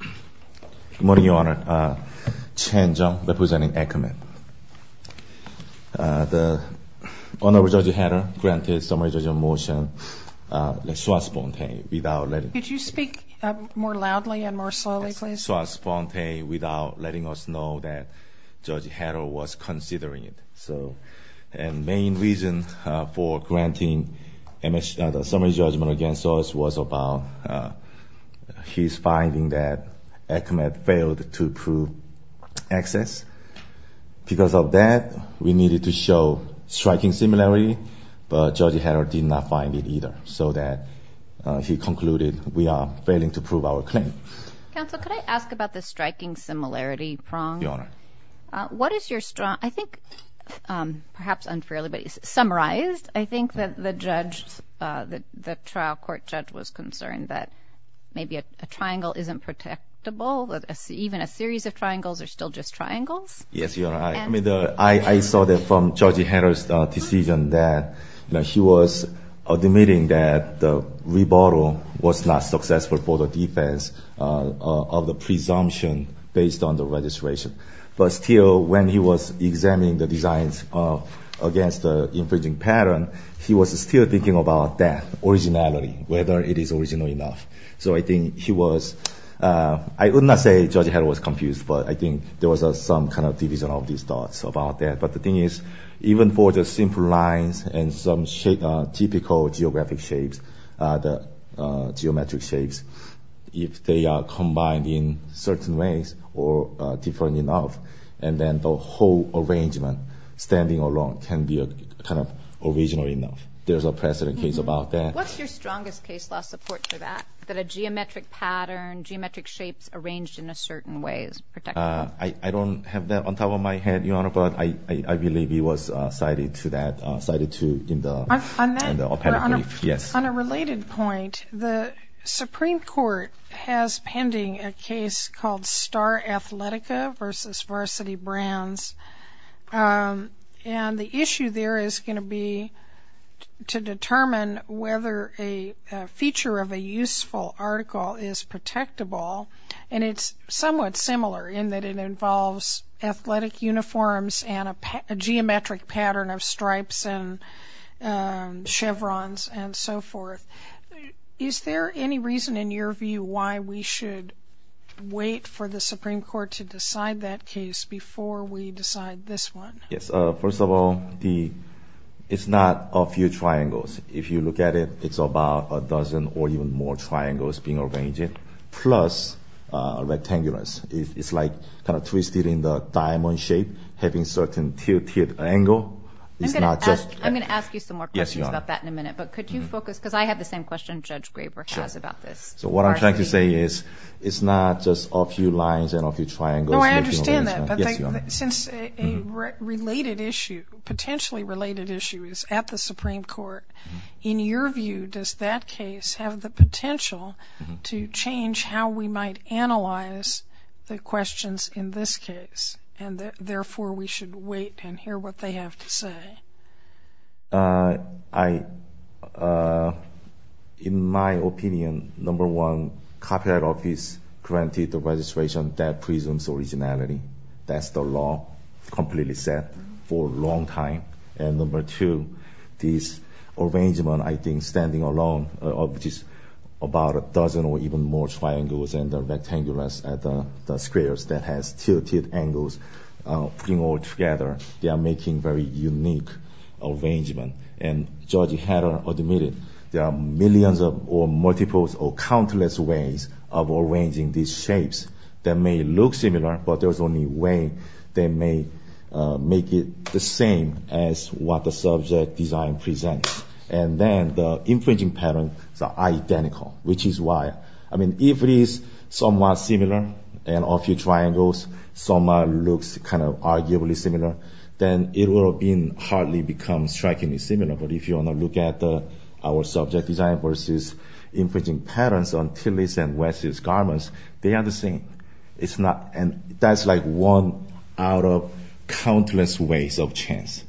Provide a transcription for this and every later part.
Good morning, Your Honor. Chen Jeong, representing Ackerman. The Honorable Judge Hedda granted summary judgment motion swastponte without letting us know. Could you speak more loudly and more slowly, please? Swastponte without letting us know that Judge Hedda was considering it. And main reason for granting the summary judgment against us was about his finding that Ackerman failed to prove excess. Because of that, we needed to show striking similarity, but Judge Hedda did not find it either, so that he concluded we are failing to prove our claim. Counsel, could I ask about the striking similarity prong? Your Honor. What is your strong—I think, perhaps unfairly, but summarized, I think that the judge, the trial court judge was concerned that maybe a triangle isn't protectable, that even a series of triangles are still just triangles. Yes, Your Honor. I mean, I saw that from Judge Hedda's decision that, you know, she was admitting that the rebuttal was not successful for the defense of the presumption based on the registration. But still, when he was examining the designs against the infringing pattern, he was still thinking about that originality, whether it is original enough. So I think he was—I would not say Judge Hedda was confused, but I think there was some kind of division of these thoughts about that. But the thing is, even for the simple lines and some typical geographic shapes, the geometric shapes, if they are combined in certain ways or different enough, and then the whole arrangement standing alone can be kind of original enough. There's a precedent case about that. What's your strongest case law support for that, that a geometric pattern, geometric shapes arranged in a certain way is protectable? I don't have that on top of my head, Your Honor, but I believe he was cited to that, cited to in the— On that? In the appendix, yes. On a related point, the Supreme Court has pending a case called Star Athletica versus Varsity Brands. And the issue there is going to be to determine whether a feature of a useful article is protectable. And it's somewhat similar in that it involves athletic uniforms and a forth. Is there any reason in your view why we should wait for the Supreme Court to decide that case before we decide this one? Yes. First of all, it's not a few triangles. If you look at it, it's about a dozen or even more triangles being arranged, plus rectangular. It's like kind of twisted in the diamond shape, having certain tilted angle. It's not just— I'm going to ask you some more questions about that in a minute, but could you focus—because I have the same question Judge Graber has about this. So what I'm trying to say is it's not just a few lines and a few triangles. No, I understand that. But since a related issue, potentially related issue, is at the Supreme Court, in your view, does that case have the potential to change how we might analyze the questions in this case? And therefore, we should wait and hear what they have to say. In my opinion, number one, copyright office granted the registration that presumes originality. That's the law, completely set for a long time. And number two, this arrangement, I think, standing alone, of just about a dozen or even more triangles and the rectangles at the arrangement. And Judge Hader admitted there are millions or multiples or countless ways of arranging these shapes that may look similar, but there's only way they may make it the same as what the subject design presents. And then the infringing pattern is identical, which is why. I mean, if it is somewhat similar, and a few triangles somewhat look kind of arguably similar, then it will hardly become strikingly similar. But if you want to look at our subject design versus infringing patterns on Tillis and West's garments, they are the same. That's like one out of countless ways of chance.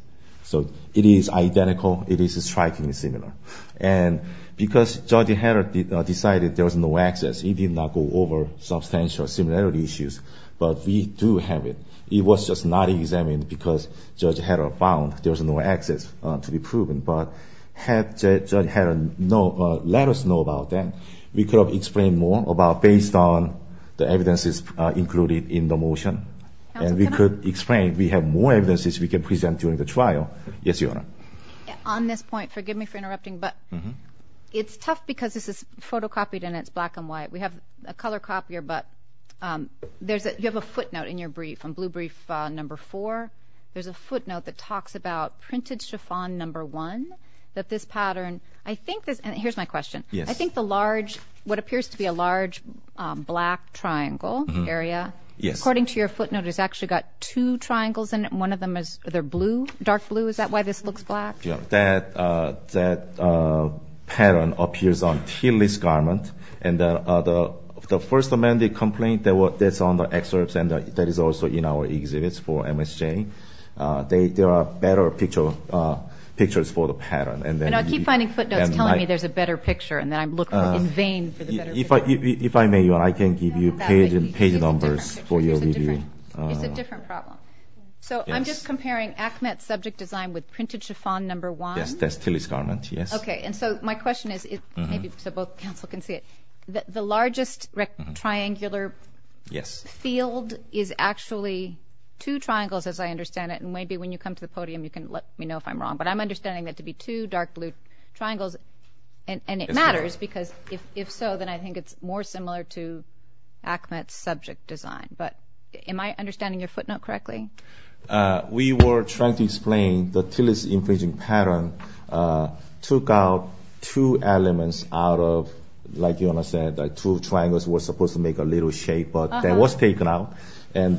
So it is identical. It is strikingly similar. And because Judge Hader decided there was no access, he did not go over substantial similarity issues. But we do have it. It was just not examined because Judge Hader found there was no access to be proven. But had Judge Hader let us know about that, we could have explained more about based on the evidences included in the motion. And we could explain, we have more evidences we can present during the trial. Yes, Your Honor. On this point, forgive me for interrupting, but it's tough because this is photocopied and it's black and white. We have a color copier, but you have a footnote in your brief, on blue brief number four. There's a footnote that talks about printed chiffon number one, that this pattern, I think, and here's my question. I think the large, what appears to be a large black triangle area, according to your footnote, it's actually got two triangles in it. One of them is, they're blue, dark blue. Is that why this looks black? That pattern appears on T-list garment. And the first amendment complaint, that's on the excerpts and that is also in our exhibits for MSJ. There are better pictures for the pattern. And I keep finding footnotes telling me there's a better picture, and then I'm looking in vain for the better picture. If I may, Your Honor, I can give you page numbers for your review. It's a different problem. So I'm just comparing ACMET subject design with printed chiffon number one. Yes, that's T-list garment, yes. Okay. And so my question is, maybe so both counsel can see it, the largest triangular field is actually two triangles, as I understand it. And maybe when you come to the podium, you can let me know if I'm wrong, but I'm understanding that to be two dark blue triangles, and it matters because if so, then I think it's more similar to ACMET subject design. But am I understanding your footnote correctly? We were trying to explain the T-list infringing pattern took out two elements out of, like Your Honor said, that two triangles were supposed to make a little shape, but that was taken out. And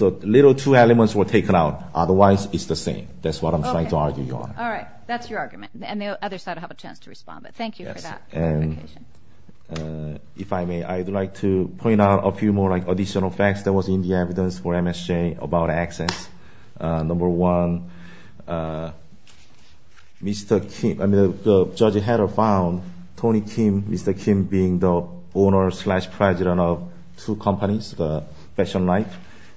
so little two elements were taken out. Otherwise, it's the same. That's what I'm trying to argue, Your Honor. Okay. All right. That's your argument. And the other side will have a chance to respond, but thank you for that clarification. Yes. And if I may, I'd like to about accents. Number one, Mr. Kim, I mean, Judge Hader found Tony Kim, Mr. Kim being the owner slash president of two companies, the Fashion Life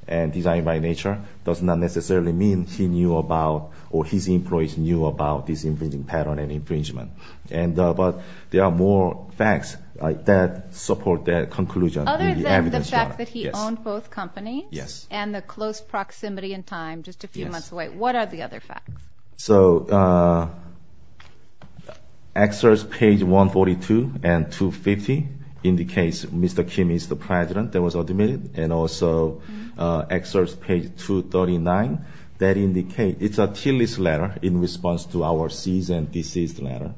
and Design by Nature, does not necessarily mean he knew about, or his employees knew about this infringing pattern and infringement. But there are more facts that support that conclusion. Other than the fact that he owned both companies and the close proximity in time, just a few months away, what are the other facts? So excerpts page 142 and 250 indicates Mr. Kim is the president that was admitted. And also excerpts page 239 that indicate it's a T-list letter in response to our seized and deceased letter.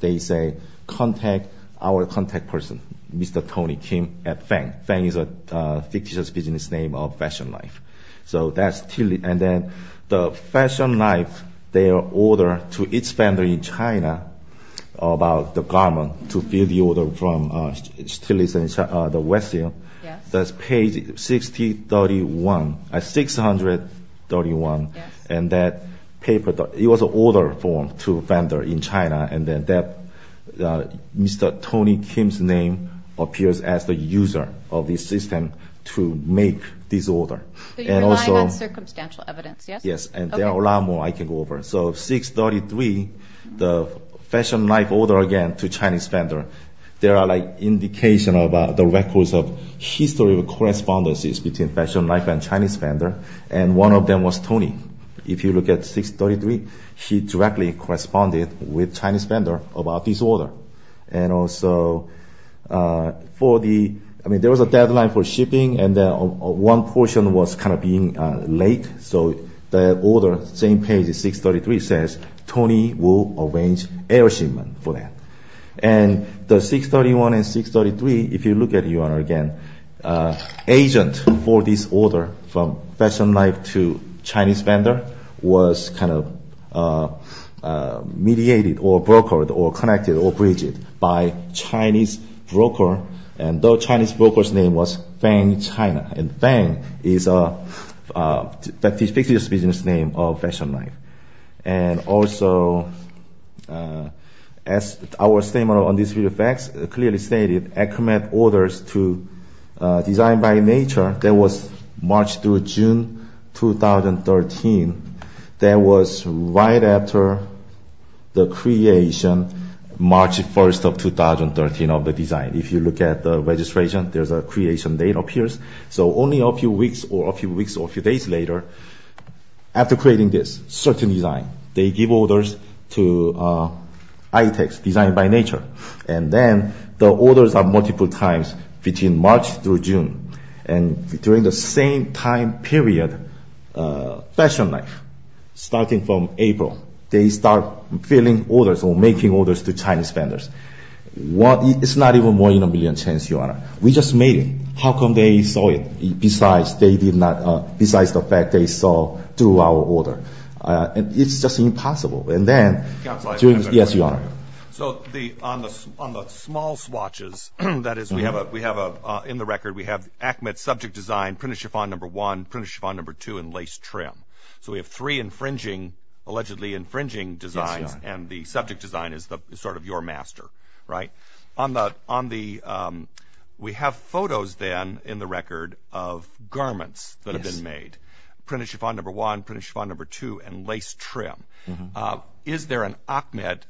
They say, contact our contact person, Mr. Tony Kim at Feng. Feng is a fictitious business name of Fashion Life. So that's T-list. And then the Fashion Life, their order to its vendor in China about the garment to fill the order from the West Hill, that's page 631. And that paper, it was an order form to vendor in China, and then that Mr. Tony Kim's name appears as the user of this system to make this order. So you're relying on circumstantial evidence, yes? Yes, and there are a lot more I can go over. So 633, the Fashion Life order again to Chinese vendor, there are like indication of the records of history of correspondences between Fashion Life and Chinese vendor. And one of them was Tony. If you look at 633, he directly corresponded with Chinese vendor about this order. And also for the, I mean, there was a deadline for shipping, and then one portion was kind of being late. So the order, same page as 633 says, Tony will arrange air shipment for that. And the 631 and 633, if you look at it again, agent for this order from Fashion Life to Chinese vendor was kind of mediated or brokered or connected or bridged by Chinese broker. And the Chinese broker's name was Feng China, and Feng is a fictitious business name of Fashion Life. And also as our statement on this video facts clearly stated, ACMET orders to Design by Nature, that was March through June 2013, that was right after the creation, March 1st of 2013 of the design. If you look at the registration, there's a creation date appears. So only a few weeks or a few days later, after creating this certain design, they give orders to ITX, Design by Nature. And then the orders are multiple times between March through June. And during the same time period, Fashion Life, starting from April, they start filling orders or making orders to Chinese vendors. It's not even one in a million chance, Your Honor. We just made it. How come they saw it besides the fact they saw through our order? And it's just impossible. And then... So on the small swatches, that is we have in the record, we have ACMET subject design, printed chiffon number one, printed chiffon number two, and lace trim. So we have three infringing, allegedly infringing designs, and the subject design is sort of your master, right? We have photos then in the record of garments that have chiffon number two and lace trim. Is there an ACMET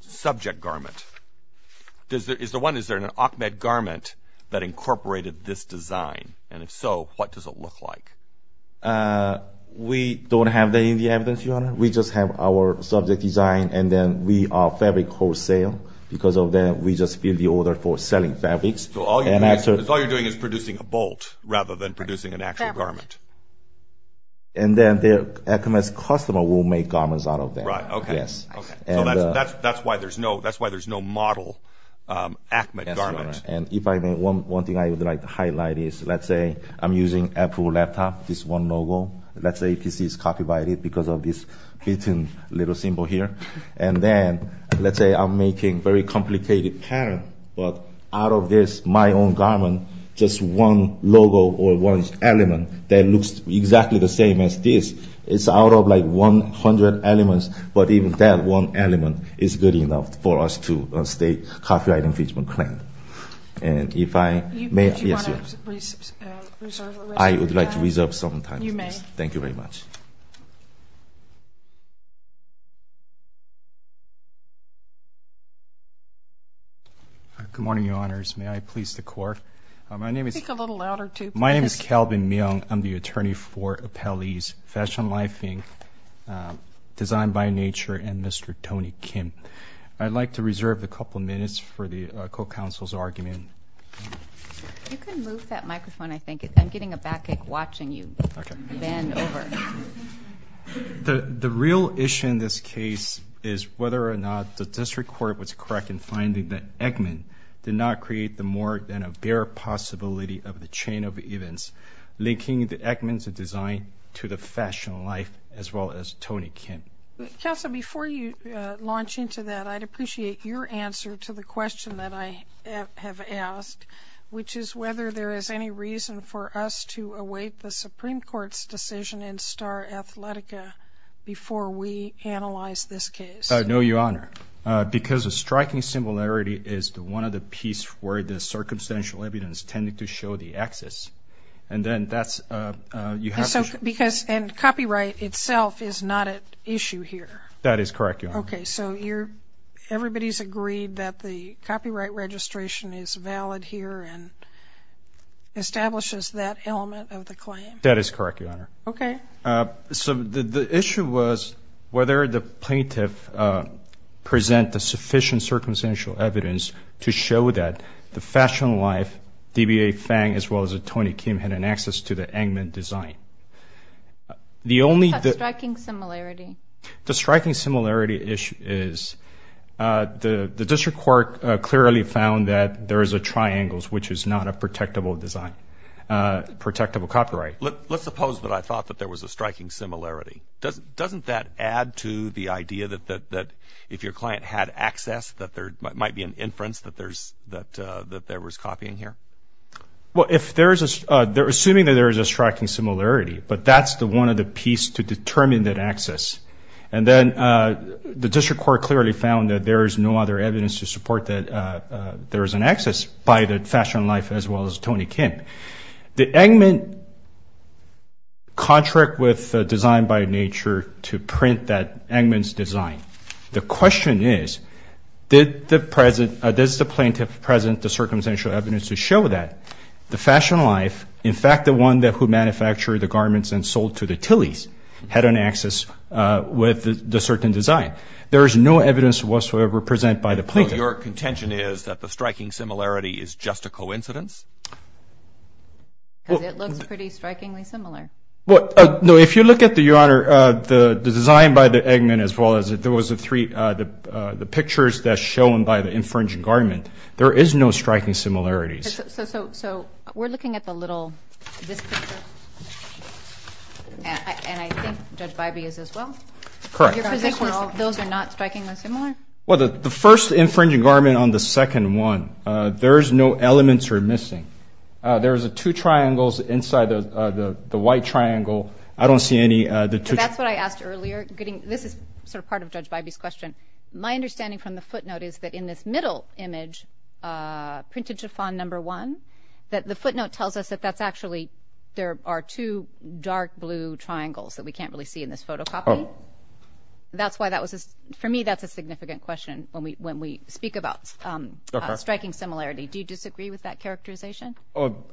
subject garment? Is the one, is there an ACMET garment that incorporated this design? And if so, what does it look like? We don't have that in the evidence, Your Honor. We just have our subject design and then we are fabric wholesale. Because of that, we just feel the order for selling fabrics. So all you're doing is producing a bolt rather than producing an actual garment. And then the ACMET's customer will make garments out of that. Right. Okay. Yes. Okay. So that's why there's no model ACMET garment. And if I may, one thing I would like to highlight is, let's say I'm using Apple laptop, this one logo. Let's say this is copyrighted because of this little symbol here. And then let's say I'm making very complicated pattern, but out of this, my own garment, just one logo or one element that looks exactly the same as this. It's out of like 100 elements, but even that one element is good enough for us to state copyright infringement claim. And if I may, I would like to reserve some time. You may. Thank you very much. Good morning, Your Honors. May I please the court? My name is- Speak a little louder too, please. My name is Calvin Myung. I'm the attorney for Appellee's Fashion Lifing, Design by Nature, and Mr. Tony Kim. I'd like to reserve a couple of minutes for the co-counsel's argument. You can move that microphone, I think. I'm getting a backache watching you bend over. The real issue in this case is whether or not the district court was correct in finding that Eggman did not create the more than a bare possibility of the chain of events, linking the Eggman's design to the fashion life, as well as Tony Kim. Counsel, before you launch into that, I'd appreciate your answer to the question that I have asked, which is whether there is any reason for us to await the Supreme Court's decision in Star Athletica before we analyze this case. No, Your Honor, because the striking similarity is the one of the piece where the circumstantial evidence tended to show the axis, and then that's- Because copyright itself is not at issue here. That is correct, Your Honor. Okay, so everybody's agreed that the copyright registration is valid here and establishes that element of the claim? That is correct, Your Honor. Okay. So the issue was whether the plaintiff present the sufficient circumstantial evidence to show that the fashion life, DBA Fang, as well as Tony Kim had an access to the Eggman design. The only- The striking similarity. The striking similarity issue is the district court clearly found that there is a triangle, which is not a protectable design, protectable copyright. Let's suppose that I thought that there was a striking similarity. Doesn't that add to the idea that if your client had access, that there might be an inference that there was copying here? Well, assuming that there is a striking similarity, but that's the one of the piece to determine that access, and then the district court clearly found that there is no other evidence to support that there is an access by the fashion life as well as Tony Kim. The Eggman contract with Design by Nature to print that Eggman's design. The question is, did the plaintiff present the circumstantial evidence to show that the fashion life, in fact, the one who manufactured the garments and sold to the Tillys, had an access with the certain design? There is no evidence whatsoever presented by the plaintiff. So your contention is that the striking similarity is just a coincidence? Because it looks pretty strikingly similar. Well, no, if you look at the, Your Honor, the design by the Eggman as well as if there was the three, the pictures that's shown by the infringing garment, there is no striking similarities. So we're looking at the little, this picture, and I think Judge Bybee is as well? Correct. Those are not strikingly similar? Well, the first infringing garment on the second one, there's no elements are missing. There's two triangles inside the white triangle. I don't see any. That's what I asked earlier. This is sort of part of Judge Bybee's question. My understanding from the footnote is that in this middle image, printed chiffon number one, that the footnote tells us that that's actually, there are two dark blue triangles that we can't really see in this photocopy. That's why that was, for me, that's a significant question when we speak about striking similarity. Do you disagree with that characterization?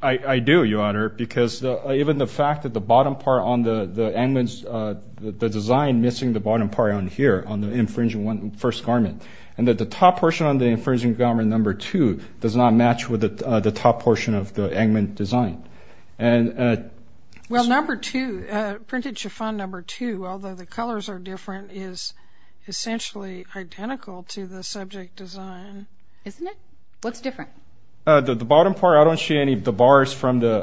I do, Your Honor, because even the fact that the bottom part on the Eggman's, the design missing the bottom part on here, on the infringing first garment, and that the top portion on the infringing garment number two does not match with the top portion of the Eggman design. Well, number two, printed chiffon number two, although the colors are different, is essentially identical to the subject design. Isn't it? What's different? The bottom part, I don't see any of the bars from the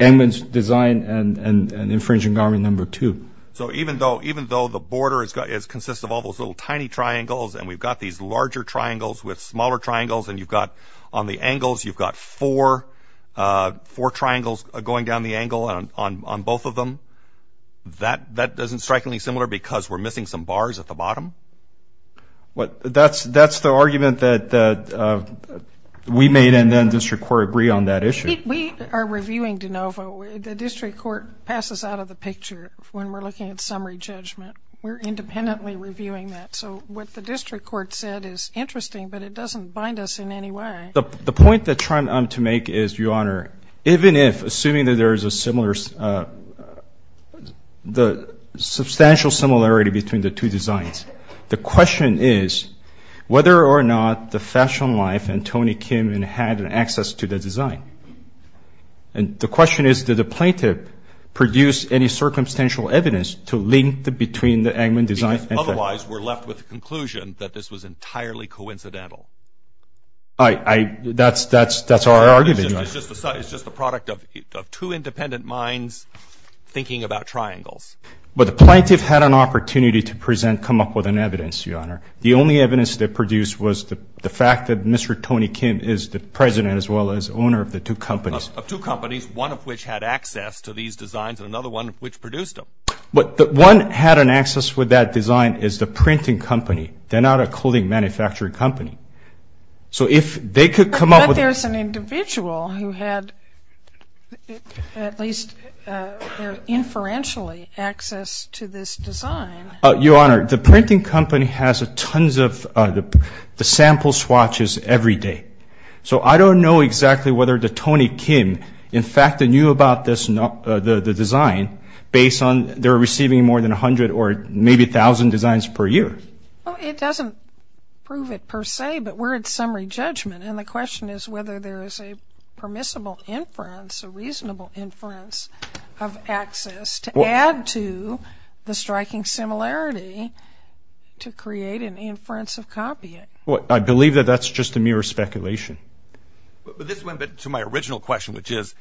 Eggman's design and infringing garment number two. So even though the border consists of all those little tiny triangles, and we've got these larger triangles with smaller triangles, and you've got, on the angles, you've got four triangles going down the angle on both of them, that isn't strikingly similar because we're missing some bars at the bottom? Well, that's the argument that we made, and then the District Court agreed on that issue. We are reviewing de novo. The District Court passes out of the picture when we're looking at summary judgment. We're independently reviewing that. So what the District Court said is interesting, but it doesn't bind us in any way. The point that I'm trying to make is, Your Honor, even if, assuming that there is a the substantial similarity between the two designs, the question is whether or not the Fashion Life and Tony Kim had an access to the design. And the question is, did the plaintiff produce any circumstantial evidence to link between the Eggman design and Fashion Life? Otherwise, we're left with the conclusion that this was entirely coincidental. That's our argument, Your Honor. It's just the product of two independent minds thinking about triangles. But the plaintiff had an opportunity to present, come up with an evidence, Your Honor. The only evidence they produced was the fact that Mr. Tony Kim is the president as well as owner of the two companies. Of two companies, one of which had access to these designs and another one which produced them. But the one that had an access with that design is the printing company. So if they could come up with... But there's an individual who had, at least inferentially, access to this design. Your Honor, the printing company has tons of sample swatches every day. So I don't know exactly whether the Tony Kim, in fact, knew about the design based on they were receiving more than 100 or maybe 1,000 designs per year. Well, it doesn't prove it per se, but we're at summary judgment. And the question is whether there is a permissible inference, a reasonable inference of access to add to the striking similarity to create an inference of copying. Well, I believe that that's just a mere speculation. But this went to my original question, which is,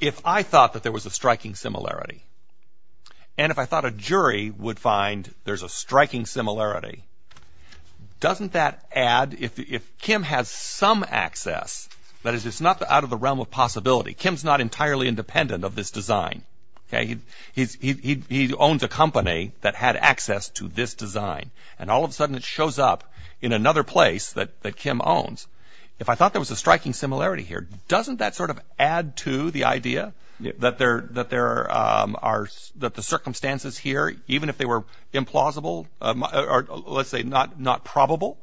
if I thought that there was a striking similarity, and if I thought a jury would find there's a striking similarity, doesn't that add... If Kim has some access, that is, it's not out of the realm of possibility. Kim's not entirely independent of this design. He owns a company that had access to this design. And all of a sudden, it shows up in another place that Kim owns. If I thought there was a striking similarity here, doesn't that sort of add to the idea that the circumstances here, even if they were implausible or, let's say, not probable,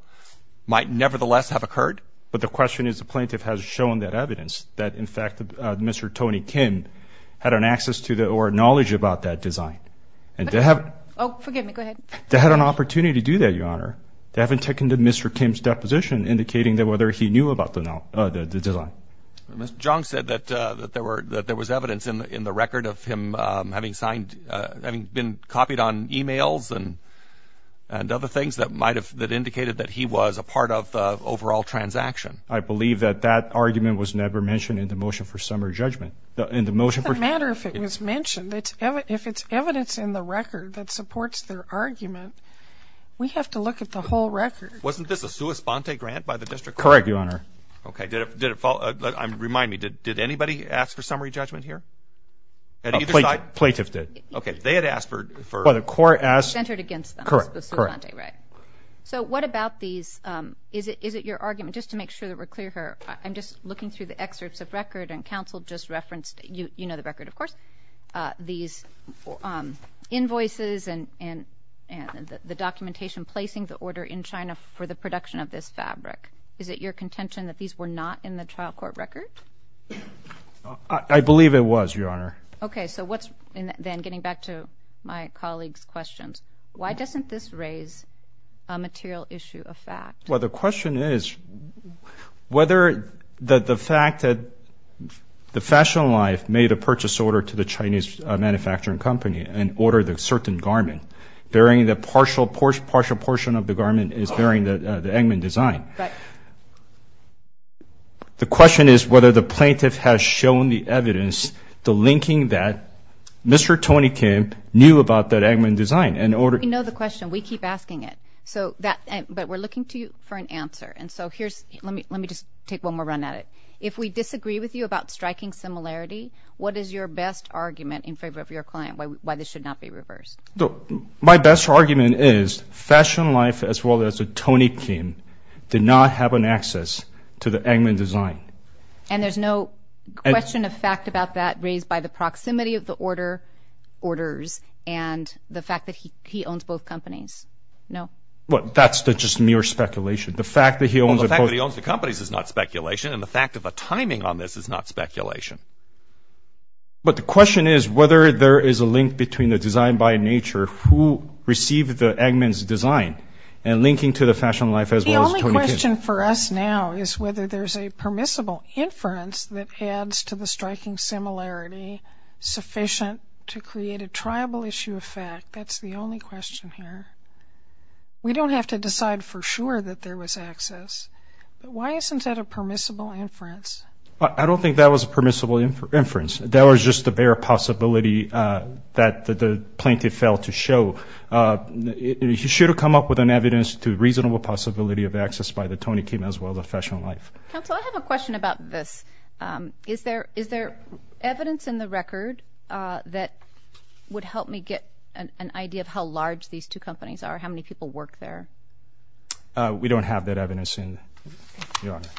might nevertheless have occurred? But the question is the plaintiff has shown that evidence that, in fact, Mr. Tony Kim had an access to or knowledge about that design. And they have... Oh, forgive me. Go ahead. They had an opportunity to do that, Your Honor. They haven't taken Mr. Kim's deposition indicating that whether he knew about the design. John said that there was evidence in the record of him having signed... Having been copied on emails and other things that might have... That indicated that he was a part of the overall transaction. I believe that that argument was never mentioned in the motion for summary judgment. In the motion for... What's the matter if it was mentioned? If it's evidence in the record that supports their argument, we have to look at the whole record. Correct, Your Honor. Okay. Remind me. Did anybody ask for summary judgment here? At either side? Plaintiff did. Okay. They had asked for... Well, the court asked... Centered against them. Correct, correct. So what about these... Is it your argument... Just to make sure that we're clear here, I'm just looking through the excerpts of record and counsel just referenced... You know the record, of course. These invoices and the documentation placing the order in China for the production of this fabric. Is it your contention that these were not in the trial court record? I believe it was, Your Honor. Okay. So what's... Then getting back to my colleague's questions, why doesn't this raise a material issue of fact? Well, the question is whether the fact that the Fashion Life made a purchase order to the Chinese manufacturing company and ordered a certain garment, bearing the partial portion of the garment is bearing the Engman design. But... The question is whether the plaintiff has shown the evidence, the linking that Mr. Tony Kim knew about that Engman design in order... We know the question. We keep asking it. So that... But we're looking to you for an answer. And so here's... Let me just take one more run at it. If we disagree with you about striking similarity, what is your best argument in favor of your client? Why this should not be reversed? My best argument is Fashion Life as well as Tony Kim did not have an access to the Engman design. And there's no question of fact about that raised by the proximity of the order orders and the fact that he owns both companies? No. Well, that's just mere speculation. The fact that he owns... Well, the fact that he owns the companies is not speculation. And the fact of the timing on this is not speculation. But the question is whether there is a link between the design by nature, who received the Engman's design and linking to the Fashion Life as well as Tony Kim. The only question for us now is whether there's a permissible inference that adds to the striking similarity sufficient to create a triable issue of fact. That's the only question here. We don't have to decide for sure that there was access. But why isn't that a permissible inference? I don't think that was a permissible inference. That was just the bare possibility that the plaintiff failed to show. He should have come up with an evidence to reasonable possibility of access by the Tony Kim as well as the Fashion Life. Counsel, I have a question about this. Is there evidence in the record that would help me get an idea of how large these two companies are, how many people work there? We don't have that evidence, Your Honor. Thank you, Your Honor.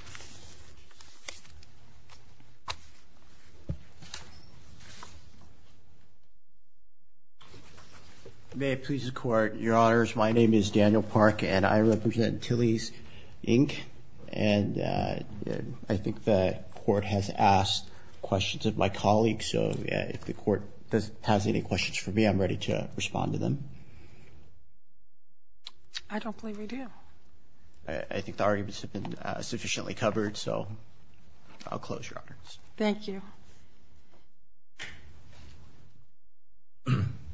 May it please the Court. Your Honors, my name is Daniel Park and I represent Tillys, Inc. And I think the Court has asked questions of my colleagues. So if the Court has any questions for me, I'm ready to respond to them. I don't believe we do. I think the arguments have been sufficiently covered. So I'll close, Your Honors. Thank you.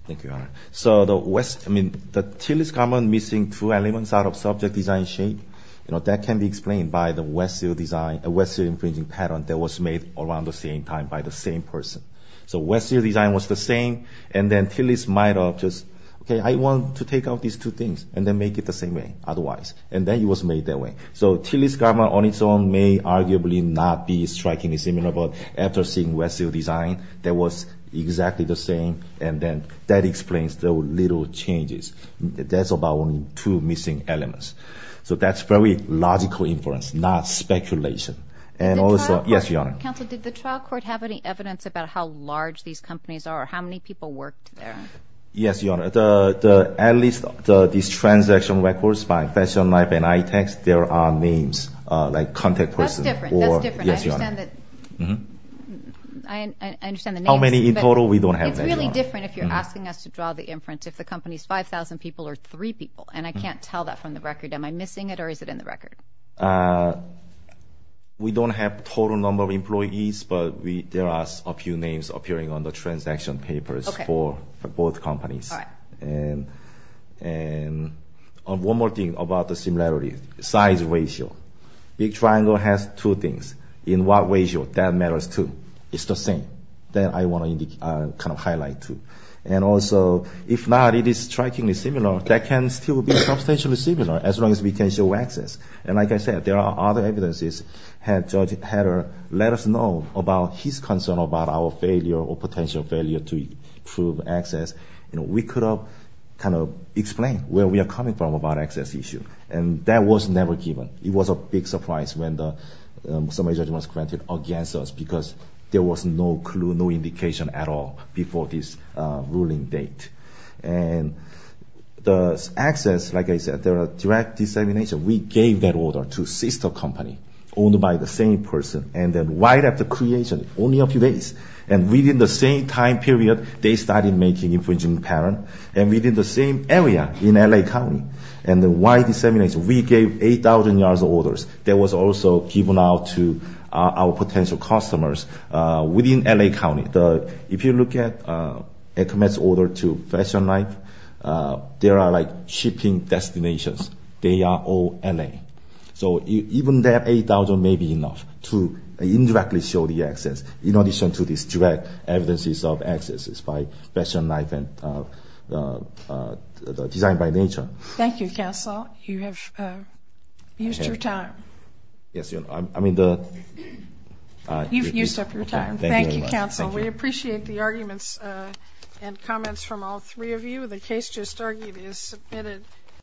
Thank you, Your Honor. So the Tillys garment missing two elements out of subject design shape, you know, that can be explained by the West Seal design, a West Seal infringing pattern that was made around the same time by the same person. So West Seal design was the same. And then Tillys might have just, okay, I want to take out these two things and then make it the same way otherwise. And then it was made that way. So Tillys garment on its own may arguably not be strikingly similar. But after seeing West Seal design, that was exactly the same. And then that explains the little changes. That's about two missing elements. So that's probably logical inference, not speculation. And also, yes, Your Honor. Counsel, did the trial court have any evidence about how large these companies are? How many people worked there? Yes, Your Honor. At least these transaction records by Fashion Life and iTax, there are names, like contact person. That's different. That's different. I understand the names. How many in total? We don't have that, Your Honor. It's really different if you're asking us to draw the inference, if the company's 5,000 people or three people. And I can't tell that from the record. Am I missing it or is it in the record? We don't have total number of employees, but there are a few names appearing on the transaction papers for both companies. And one more thing about the similarity, size ratio. Big Triangle has two things. In what ratio? That matters, too. It's the same. That I want to kind of highlight, too. And also, if not, it is strikingly similar. That can still be substantially similar as long as we can show access. And like I said, there are other evidences. Had Judge Hader let us know about his concern about our failure or potential failure to prove access, we could have kind of explained where we are coming from about access issue. And that was never given. It was a big surprise when the summary judgment was granted against us because there was no clue, no indication at all before this ruling date. And the access, like I said, there are direct dissemination. We gave that order to sister company owned by the same person. And then right after creation, only a few days, and within the same time period, they started making infringement pattern. And within the same area in L.A. County. And then why dissemination? We gave 8,000 yards of orders. That was also given out to our potential customers within L.A. County. If you look at ECMAS order to Fashion Life, there are like shipping destinations. They are all L.A. So even that 8,000 may be enough to indirectly show the access in addition to these direct evidences of access by Fashion Life and Design by Nature. Thank you, Counsel. You have used your time. Yes, I mean the... You've used up your time. Thank you, Counsel. We appreciate the arguments and comments from all three of you. The case just argued is submitted.